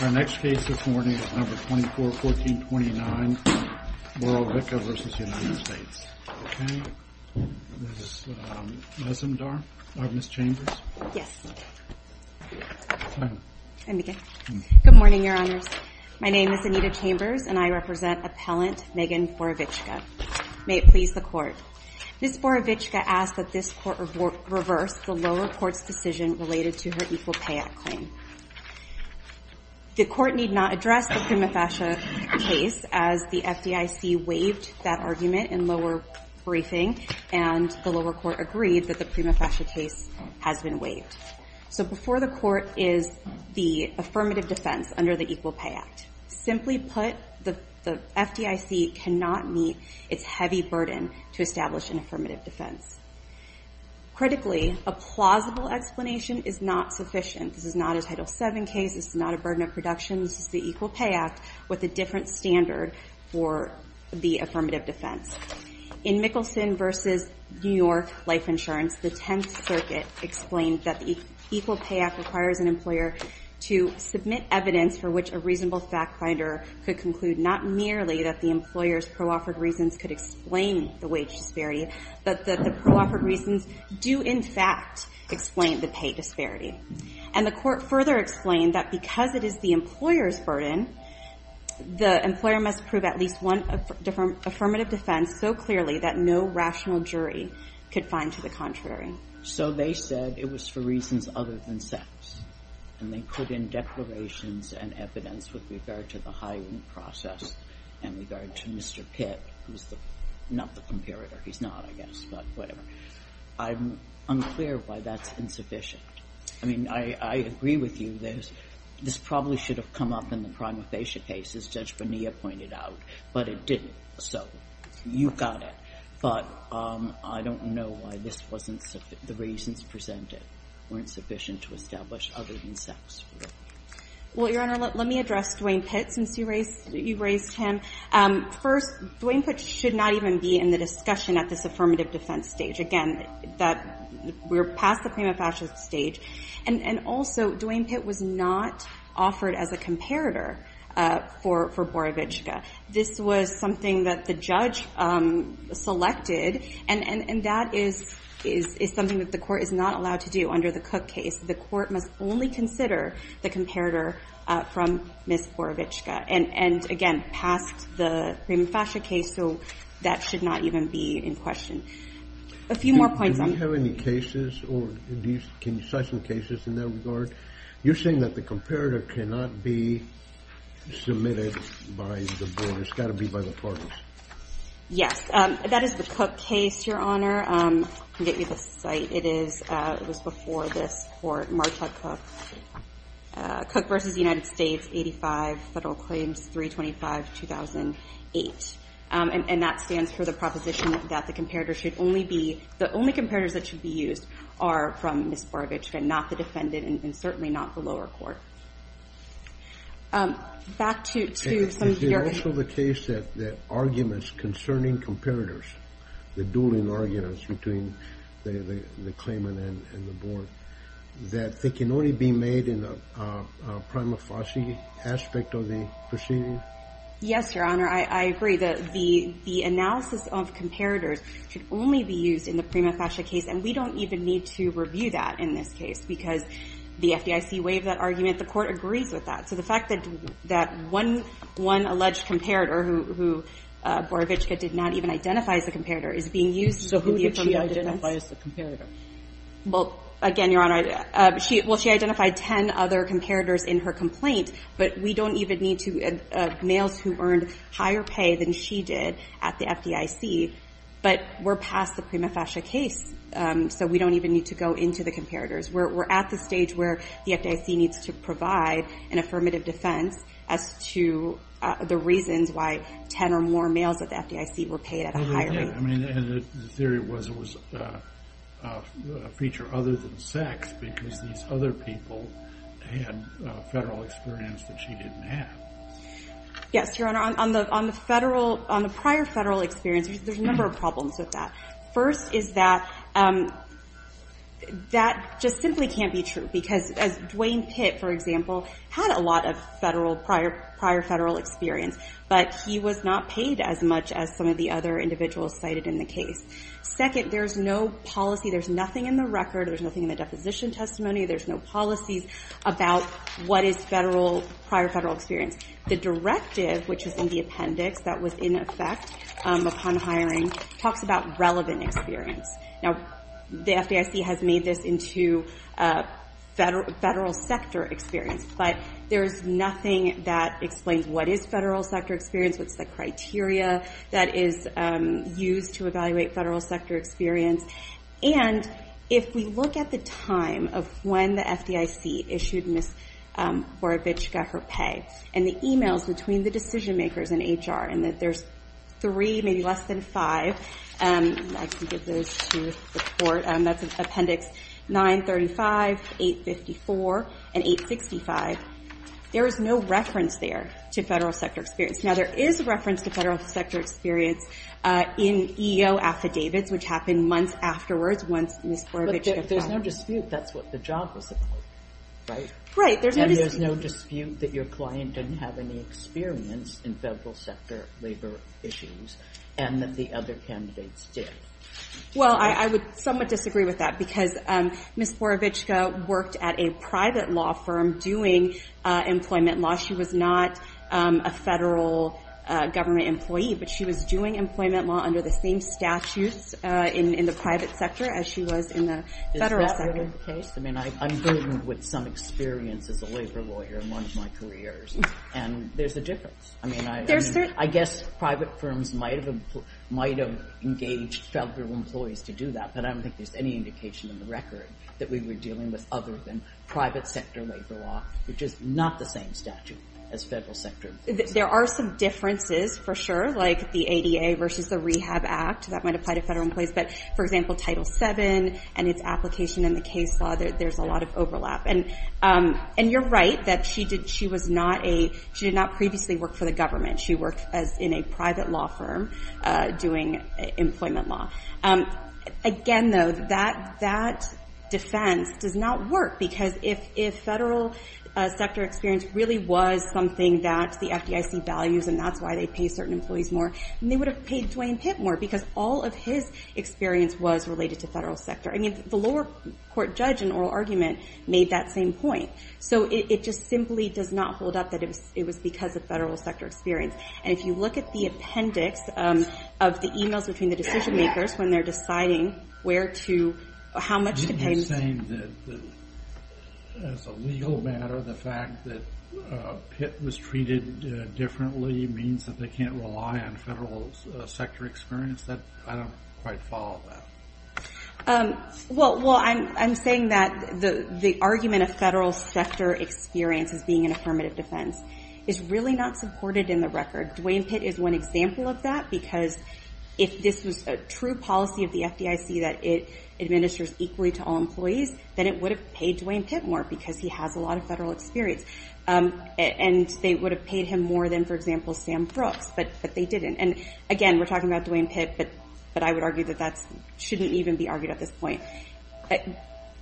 Our next case this morning is No. 241429, Borovicka v. United States. Okay, Ms. Mesumdar, or Ms. Chambers. Yes. Good morning, Your Honors. My name is Anita Chambers, and I represent Appellant Megan Borovicka. May it please the Court. Ms. Borovicka asked that this Court reverse the lower court's decision related to her Equal Pay Act claim. The Court need not address the Prima Fascia case as the FDIC waived that argument in lower briefing, and the lower court agreed that the Prima Fascia case has been waived. So before the Court is the affirmative defense under the Equal Pay Act. Simply put, the FDIC cannot meet its heavy burden to establish an affirmative defense. Critically, a plausible explanation is not sufficient. This is not a Title VII case. This is not a burden of production. This is the Equal Pay Act with a different standard for the affirmative defense. In Mickelson v. New York Life Insurance, the Tenth Circuit explained that the Equal Pay Act requires an employer to submit evidence for which a reasonable fact finder could conclude not merely that the employer's pro-offered reasons could explain the wage disparity, but that the pro-offered reasons do in fact explain the pay disparity. And the Court further explained that because it is the employer's burden, the employer must prove at least one affirmative defense so clearly that no rational jury could find to the contrary. So they said it was for reasons other than sex. And they put in declarations and evidence with regard to the hiring process and regard to Mr. Pitt, who's not the comparator. He's not, I guess, but whatever. I'm unclear why that's insufficient. I mean, I agree with you. This probably should have come up in the prima facie case, as Judge Bonilla pointed out, but it didn't. So you got it. But I don't know why this wasn't sufficient. The reasons presented weren't sufficient to establish other than sex. Well, Your Honor, let me address Dwayne Pitt, since you raised him. First, Dwayne Pitt should not even be in the discussion at this affirmative defense stage. Again, we're past the prima facie stage. And also, Dwayne Pitt was not offered as a comparator for Borovitska. This was something that the judge selected, and that is something that the Court is not allowed to do under the Cook case. The Court must only consider the comparator from Ms. Borovitska. And again, past the prima facie case, so that should not even be in question. A few more points. Do you have any cases, or can you cite some cases in that regard? You're saying that the comparator cannot be submitted by the Board. It's got to be by the parties. Yes. That is the Cook case, Your Honor. I can get you the site. It was before this Court. Marcia Cook. Cook v. United States, 85, Federal Claims, 325, 2008. And that stands for the proposition that the comparator should only be, the only comparators that should be used are from Ms. Borovitska, not the defendant, and certainly not the lower court. Back to some of your... Is it also the case that arguments concerning comparators, the dueling arguments between the claimant and the Board, that they can only be made in a prima facie aspect of the proceeding? Yes, Your Honor. I agree. The analysis of comparators should only be used in the prima facie case, and we don't even need to review that in this case, because the FDIC waived that argument. The Court agrees with that. So the fact that one alleged comparator, who Borovitska did not even identify as a comparator, is being used in the affirmative defense. So who did she identify as a comparator? Well, again, Your Honor, she identified ten other comparators in her complaint. But we don't even need to, males who earned higher pay than she did at the FDIC, but we're past the prima facie case, so we don't even need to go into the comparators. We're at the stage where the FDIC needs to provide an affirmative defense as to the reasons why ten or more males at the FDIC were paid at a higher rate. I mean, and the theory was it was a feature other than sex, because these other people had federal experience that she didn't have. Yes, Your Honor, on the prior federal experience, there's a number of problems with that. First is that that just simply can't be true, because Dwayne Pitt, for example, had a lot of prior federal experience, but he was not paid as much as some of the other individuals cited in the case. Second, there's no policy, there's nothing in the record, there's nothing in the deposition testimony, there's no policies about what is prior federal experience. The directive, which is in the appendix, that was in effect upon hiring, talks about relevant experience. Now, the FDIC has made this into federal sector experience, but there's nothing that explains what is federal sector experience, what's the criteria that is used to evaluate federal sector experience. And if we look at the time of when the FDIC issued Ms. Boravichka her pay, and the emails between the decision makers in HR, and that there's three, maybe less than five, I can give those to the court, that's appendix 935, 854, and 865, there is no reference there to federal sector experience. Now, there is reference to federal sector experience in EO affidavits, which happen months afterwards, once Ms. Boravichka filed. But there's no dispute that's what the job was supposed to be, right? Right, there's no dispute. There's no dispute that your client didn't have any experience in federal sector labor issues, and that the other candidates did. Well, I would somewhat disagree with that, because Ms. Boravichka worked at a private law firm doing employment law. She was not a federal government employee, but she was doing employment law under the same statutes in the private sector as she was in the federal sector. I mean, I'm burdened with some experience as a labor lawyer in one of my careers, and there's a difference. I mean, I guess private firms might have engaged federal employees to do that, but I don't think there's any indication in the record that we were dealing with other than private sector labor law, which is not the same statute as federal sector. There are some differences, for sure, like the ADA versus the Rehab Act, that might apply to federal employees, but for example, Title VII and its application in the case law, there's a lot of overlap. And you're right that she did not previously work for the government. She worked in a private law firm doing employment law. Again, though, that defense does not work, because if federal sector experience really was something that the FDIC values and that's why they pay certain employees more, they would have paid Dwayne Pitt more, because all of his experience was related to federal sector. I mean, the lower court judge in oral argument made that same point. So it just simply does not hold up that it was because of federal sector experience. And if you look at the appendix of the emails between the decision makers when they're deciding how much to pay... I mean, as a legal matter, the fact that Pitt was treated differently means that they can't rely on federal sector experience? I don't quite follow that. Well, I'm saying that the argument of federal sector experience as being an affirmative defense is really not supported in the record. Dwayne Pitt is one example of that, because if this was a true policy of the FDIC that it administers equally to all employees, then it would have paid Dwayne Pitt more, because he has a lot of federal experience. And they would have paid him more than, for example, Sam Brooks, but they didn't. And again, we're talking about Dwayne Pitt, but I would argue that that shouldn't even be argued at this point.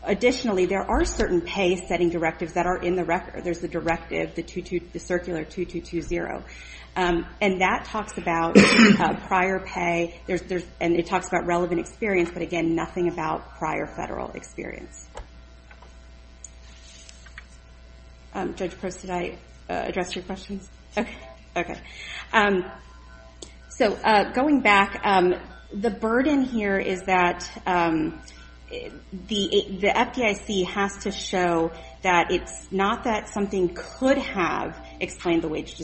Additionally, there are certain pay-setting directives that are in the record. There's the directive, the circular 2220. And that talks about prior pay. And it talks about relevant experience, but again, nothing about prior federal experience. Judge Gross, did I address your questions? So, going back, the burden here is that the FDIC has to show that it's not that something could have explained the wage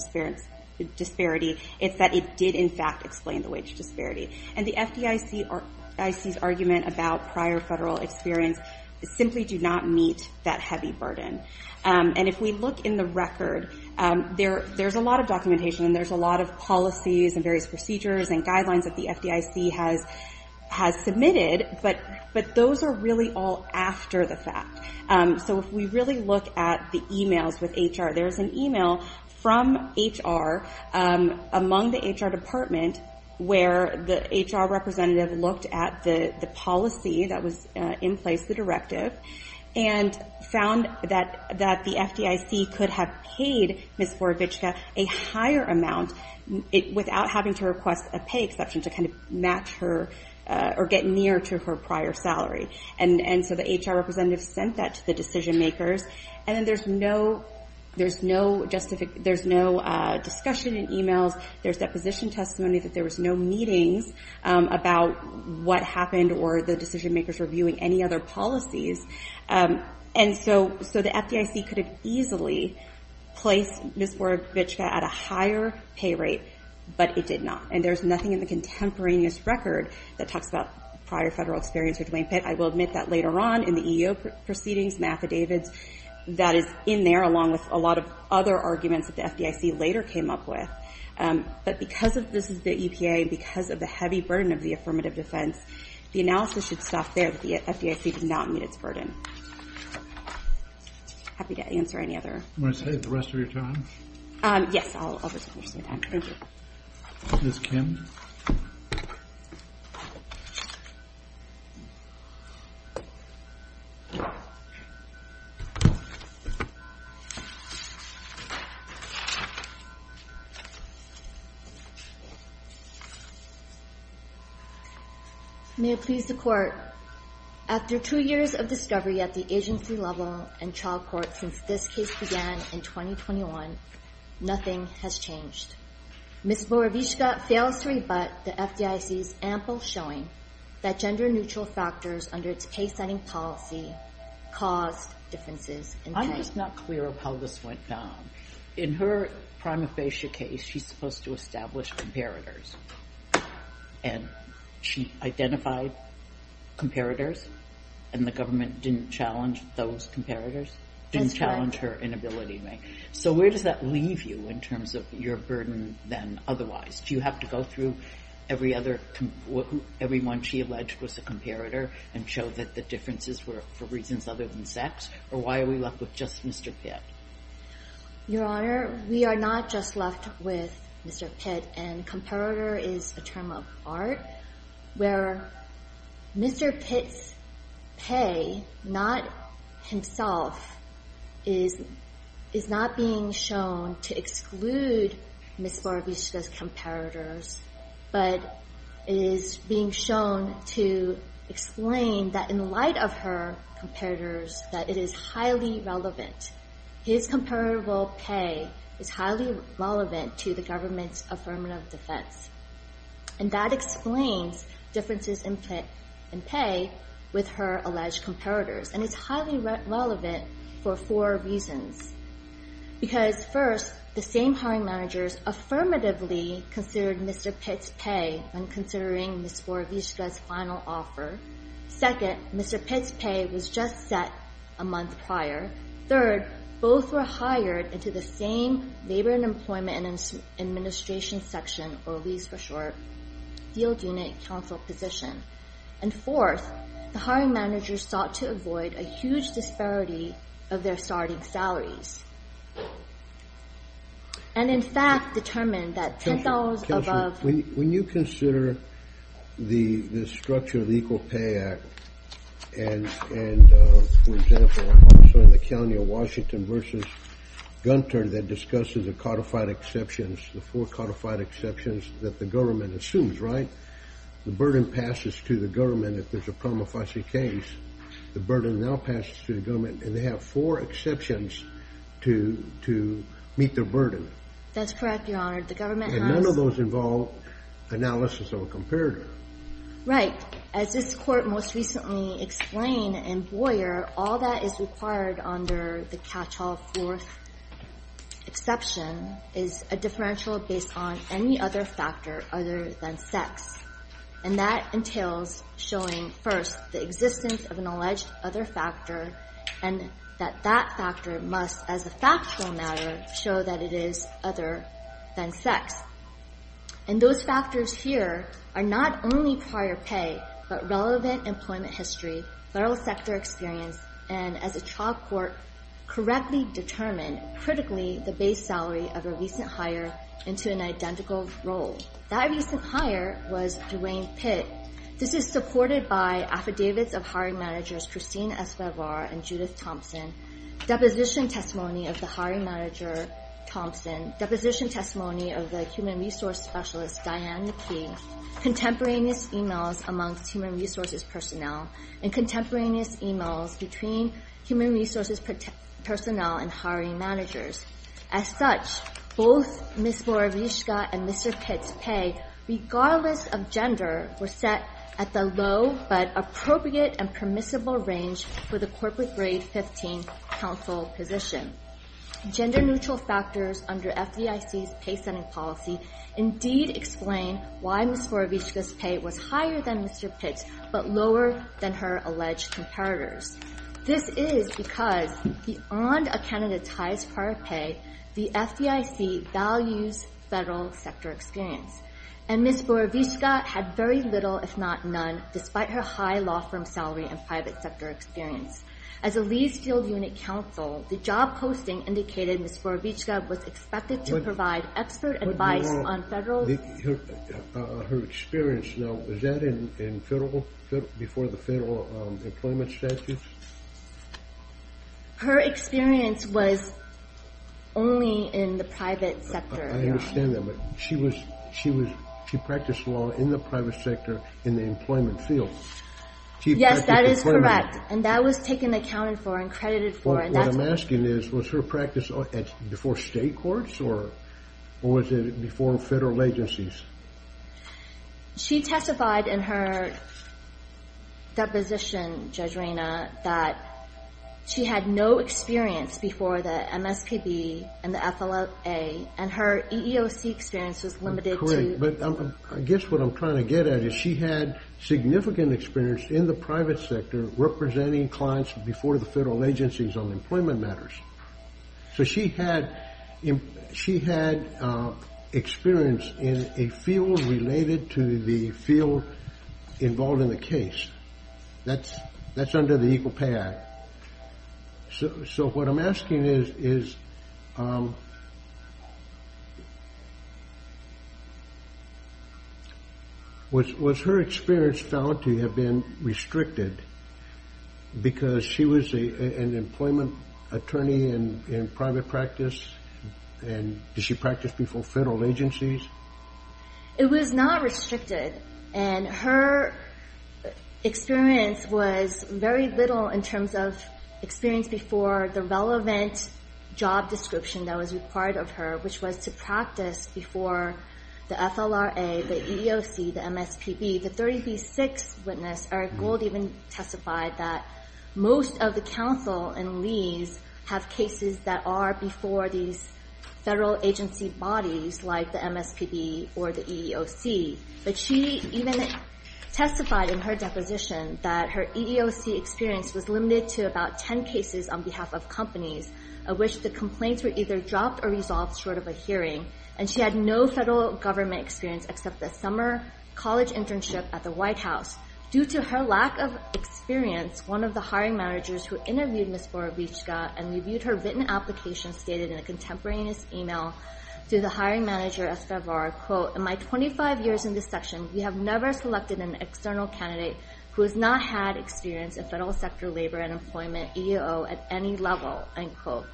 disparity, it's that it did in fact explain the wage disparity. And the FDIC's argument about prior federal experience simply do not meet that heavy burden. And if we look in the record, there's a lot of documentation and there's a lot of policies and various procedures and guidelines that the FDIC has submitted, but those are really all after the fact. So if we really look at the emails with HR, there's an email from HR among the HR department where the HR representative looked at the policy that was in place, the directive, and found that the FDIC could have paid Ms. Vorovichka a higher amount without having to request a pay exception to kind of match her or get near to her prior salary. And so the HR representative sent that to the decision makers. And then there's no discussion in emails, there's deposition testimony that there was no meetings about what happened or the decision makers reviewing any other policies. And so the FDIC could have easily placed Ms. Vorovichka at a higher pay rate, but it did not. And there's nothing in the contemporaneous record that talks about prior federal experience with Duane Pitt. I will admit that later on in the EEO proceedings and affidavits that is in there along with a lot of other arguments that the FDIC later came up with. But because this is the EPA, because of the heavy burden of the affirmative defense, the analysis should stop there that the FDIC did not meet its burden. Happy to answer any other. May it please the Court. May it please the Court. After two years of discovery at the agency level and trial court since this case began in 2021, nothing has changed. Ms. Vorovichka fails to rebut the FDIC's ample showing that gender neutral factors under its case setting policy caused differences in pay. I'm just not clear of how this went down. In her prima facie case, she's supposed to establish comparators. And she identified comparators, and the government didn't challenge those comparators, didn't challenge her inability rank. So where does that leave you in terms of your burden than otherwise? Do you have to go through every other everyone she alleged was a comparator and show that the differences were for reasons other than sex? Or why are we left with just Mr. Pitt? Your Honor, we are not just left with Mr. Pitt, and comparator is a term of art where Mr. Pitt's pay, not himself, is not being shown to exclude Ms. Vorovichka's comparators, but is being shown to explain that in light of her comparators, that it is highly relevant. His comparable pay is highly relevant to the government's affirmative defense. And that explains differences in pay with her alleged comparators. And it's highly relevant for four reasons. Because first, the same hiring managers affirmatively considered Mr. Pitt's pay when considering Ms. Vorovichka's final offer. Second, Mr. Pitt's pay was just set a month prior. Third, both were hired into the same Labor and Employment Administration section, or LEES for short, field unit counsel position. And fourth, the hiring managers sought to avoid a huge disparity of their starting salaries. And in fact determined that $10 above... Counselor, when you consider the structure of the Equal Pay Act and, for example, also in the county of Washington versus Gunter that discusses the codified exceptions, the four codified exceptions that the government assumes, right? The burden passes to the government if there's a promulgation case. The burden now passes to the government, and they have four exceptions to meet their burden. That's correct, Your Honor. The government has... involved analysis of a comparator. Right. As this Court most recently explained in Boyer, all that is required under the catch-all fourth exception is a differential based on any other factor other than sex. And that entails showing first the existence of an alleged other factor, and that that factor must, as a factual matter, show that it is other than sex. And those factors here are not only prior pay, but relevant employment history, federal sector experience, and, as a trial court, correctly determined, critically, the base salary of a recent hire into an identical role. That recent hire was Duane Pitt. This is supported by affidavits of hiring managers Christine Escobar and Judith Thompson, deposition testimony of the hiring manager Thompson, deposition testimony of the human resource specialist Diane McKee, contemporaneous emails amongst human resources personnel, and contemporaneous emails between human resources personnel and hiring managers. As such, both Ms. Borowiczka and Mr. Pitt's pay, regardless of gender, were set at the low but appropriate and permissible range for the corporate grade 15 counsel position. Gender neutral factors under FDIC's pay setting policy indeed explain why Ms. Borowiczka's pay was higher than Mr. Pitt's, but lower than her alleged comparators. This is because, beyond a candidate's highest prior pay, the FDIC values federal sector experience. And Ms. Borowiczka had very little, if not none, despite her high law firm salary and private sector experience. As a leased field unit counsel, the job posting indicated Ms. Borowiczka was expected to provide expert advice on federal... Her experience, now, was that before the federal employment statutes? Her experience was only in the private sector. I understand that, but she was she practiced law in the private sector in the employment field. Yes, that is correct. And that was taken account for and credited for. What I'm asking is, was her practice before state courts or was it before federal agencies? She testified in her deposition, Judge Reyna, that she had no experience before the MSPB and the FLAA, and her EEOC experience was limited to... I guess what I'm trying to get at is she had significant experience in the private sector representing clients before the federal agencies on employment matters. So she had experience in a field related to the field involved in the case. That's under the Equal Pay Act. So what I'm asking is was... Was her experience found to have been restricted because she was an employment attorney in private practice and did she practice before federal agencies? It was not restricted, and her experience was very little in terms of experience before the relevant job description that was required of her, which was to practice before the FLAA, the EEOC, the MSPB. The 30b-6 witness, Eric Gold, even testified that most of the counsel in Lee's have cases that are before these federal agency bodies like the MSPB or the EEOC. But she even testified in her deposition that her EEOC experience was limited to about 10 cases on behalf of companies, of which the complaints were either dropped or resolved short of a hearing, and she had no federal government experience except the summer college internship at the White House. Due to her lack of experience, one of the hiring managers who interviewed Ms. Borovitska and reviewed her written application stated in a contemporaneous email to the hiring manager, Estevar, quote, In my 25 years in this section, we have never selected an external candidate who has not had experience in federal sector labor and employment, EEO, at any level, end quote,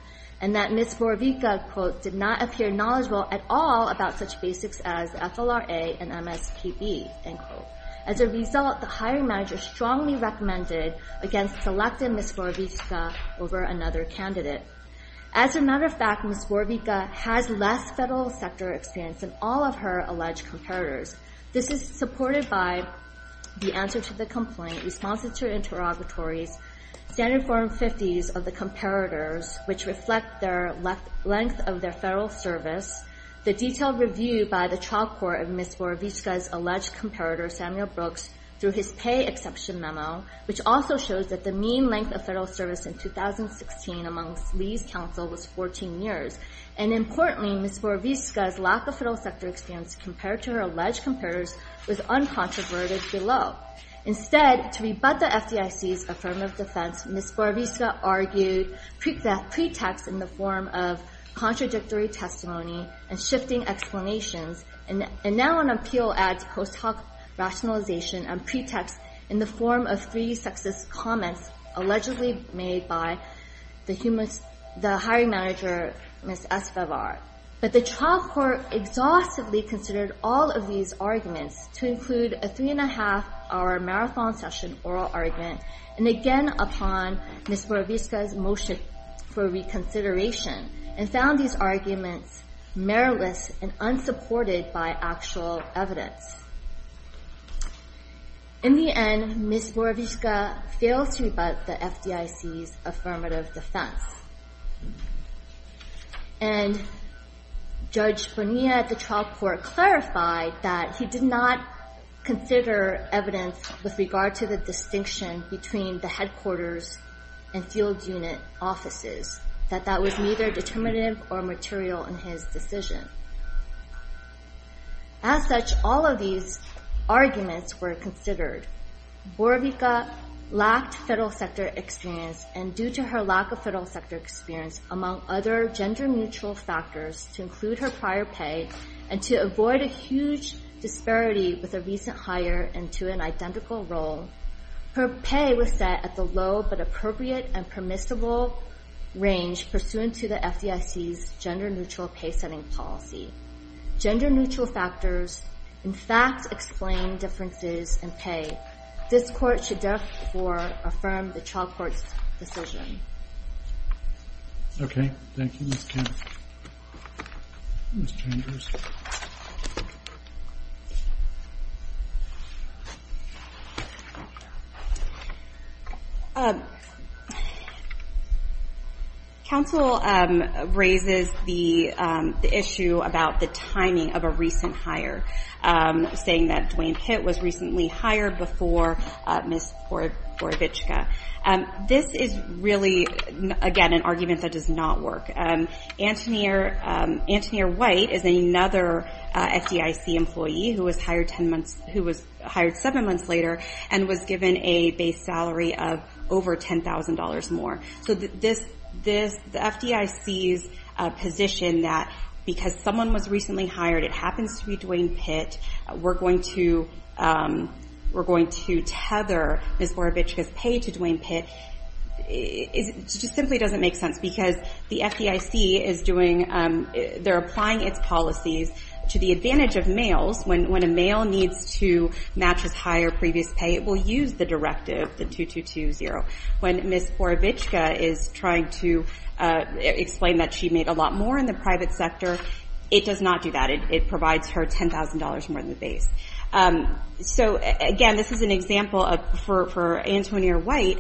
and that Ms. Borovitska, quote, did not appear knowledgeable at all about such basics as FLRA and MSPB, end quote. As a result, the hiring manager strongly recommended against selecting Ms. Borovitska over another candidate. As a matter of fact, Ms. Borovitska has less federal sector experience than all of her alleged competitors. This is reported by the answer to the complaint, responses to her interrogatories, standard form 50s of the competitors, which reflect their length of their federal service, the detailed review by the trial court of Ms. Borovitska's alleged competitor, Samuel Brooks, through his pay exception memo, which also shows that the mean length of federal service in 2016 amongst Lee's counsel was 14 years, and importantly, Ms. Borovitska's lack of federal sector experience compared to her alleged competitors was uncontroverted below. Instead, to rebut the FDIC's affirmative defense, Ms. Borovitska argued pretext in the form of contradictory testimony and shifting explanations, and now on appeal adds post hoc rationalization and pretext in the form of three sexist comments allegedly made by the hiring manager, Ms. Espevar. But the trial court exhaustively considered all of these arguments to include a three and a half hour marathon session oral argument, and again upon Ms. Borovitska's motion for reconsideration, and found these arguments meriless and unsupported by actual evidence. In the end, Ms. Borovitska failed to rebut the FDIC's affirmative defense, and Judge Bonilla at the trial court clarified that he did not consider evidence with regard to the distinction between the headquarters and field unit offices, that that was neither determinative or material in his decision. As such, all of these arguments were considered. Borovitska lacked federal sector experience, and due to her lack of federal sector experience, among other gender-neutral factors, to include her prior pay and to avoid a huge disparity with a recent hire and to an identical role, her pay was set at the low but appropriate and permissible range pursuant to the FDIC's gender-neutral pay setting policy. Gender-neutral factors, in fact, explain differences in pay. This court should therefore affirm the trial court's decision. Okay. Thank you, Ms. Chambers. Counsel raises the issue about the timing of a recent hire, saying that Duane Pitt was recently hired before Ms. Borovitska. This is really again an argument that does not work. Antonia White is another FDIC employee who was hired seven months later and was given a base salary of over $10,000 more. The FDIC's position that because someone was recently hired, it happens to be Duane Pitt, we're going to tether Ms. Borovitska's pay to Duane Pitt just simply doesn't make sense because the FDIC is doing they're applying its policies to the advantage of males. When a male needs to match his hire previous pay, it will use the directive the 2220. When Ms. Borovitska is trying to explain that she made a lot more in the private sector, it does not do that. It provides her $10,000 more than the base. Again, this is an example for Antonia White.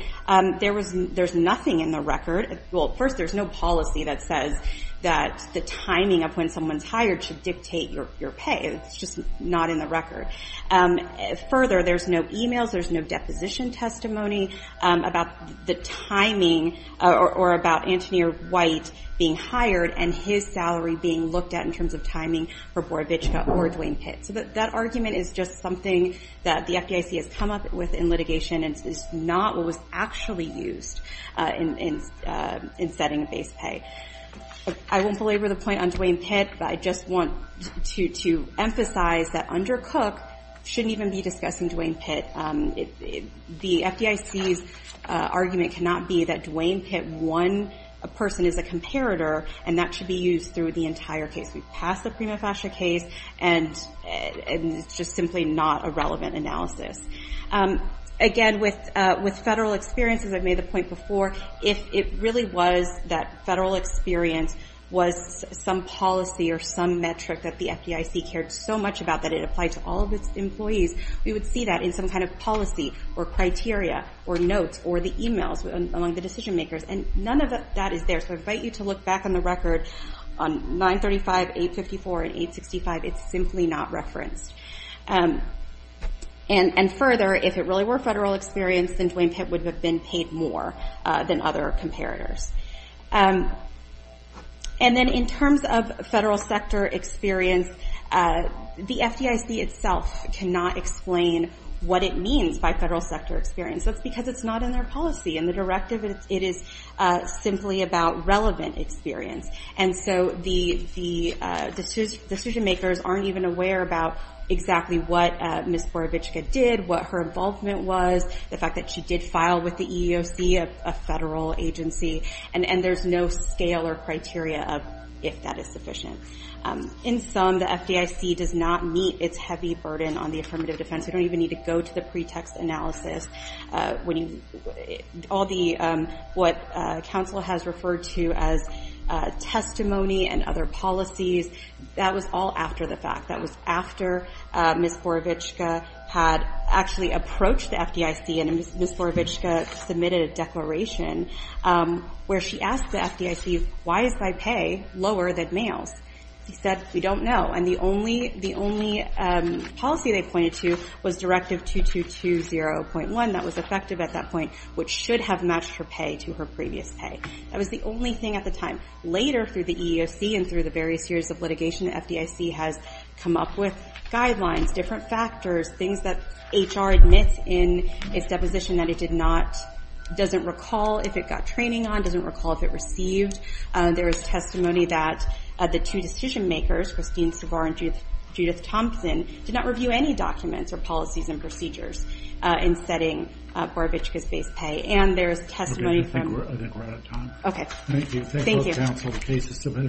There's nothing in the record. First, there's no policy that says that the timing of when someone's hired should dictate your pay. It's just not in the record. Further, there's no emails. There's no deposition testimony about the timing or about Antonia White being hired and his salary being looked at in terms of timing for Borovitska or Duane Pitt. That argument is just something that the FDIC has come up with in litigation. It's not what was actually used in setting base pay. I won't belabor the point on Duane Pitt, but I just want to emphasize that under Cook shouldn't even be discussing Duane Pitt. The FDIC's argument cannot be that Duane Pitt won a person as a comparator, and that should be used through the entire case. We've passed the Prima Fascia case, and it's just simply not a relevant analysis. Again, with federal experiences, I've made the point before, if it really was that federal experience was some policy or some metric that the FDIC cared so much about that it applied to all of its employees, we would see that in some kind of policy or criteria or notes or the emails among the decision makers. None of that is there, so I invite you to look back on the record on 935, 854, and 865. It's simply not referenced. And further, if it really were federal experience, then Duane Pitt would have been paid more than other comparators. And then in terms of federal sector experience, the FDIC itself cannot explain what it means by federal sector experience. That's because it's not in their policy. In the directive, it is simply about relevant experience. And so the decision makers aren't even aware about exactly what Ms. Boravichka did, what her involvement was, the fact that she did file with the EEOC, a federal agency, and there's no scale or criteria of if that is sufficient. In sum, the FDIC does not meet its heavy burden on the affirmative defense. We don't even need to go to the pretext analysis when all the, what counsel has referred to as testimony and other policies, that was all after the fact. That was after Ms. Boravichka had actually approached the FDIC and Ms. Boravichka submitted a declaration where she asked the FDIC why is my pay lower than males? She said, we don't know. And the only policy they pointed to was Directive 2220.1 that was effective at that point, which should have matched her pay to her previous pay. That was the only thing at the time. Later through the EEOC and through the various years of litigation, the FDIC has come up with guidelines, different factors, things that HR admits in its deposition that it did not, doesn't recall if it got training on, doesn't recall if it received. There is testimony that the two decision makers, Christine Savar and Judith Thompson, did not review any documents or policies and procedures in setting Boravichka's base pay. And there is testimony from... Okay. Thank you.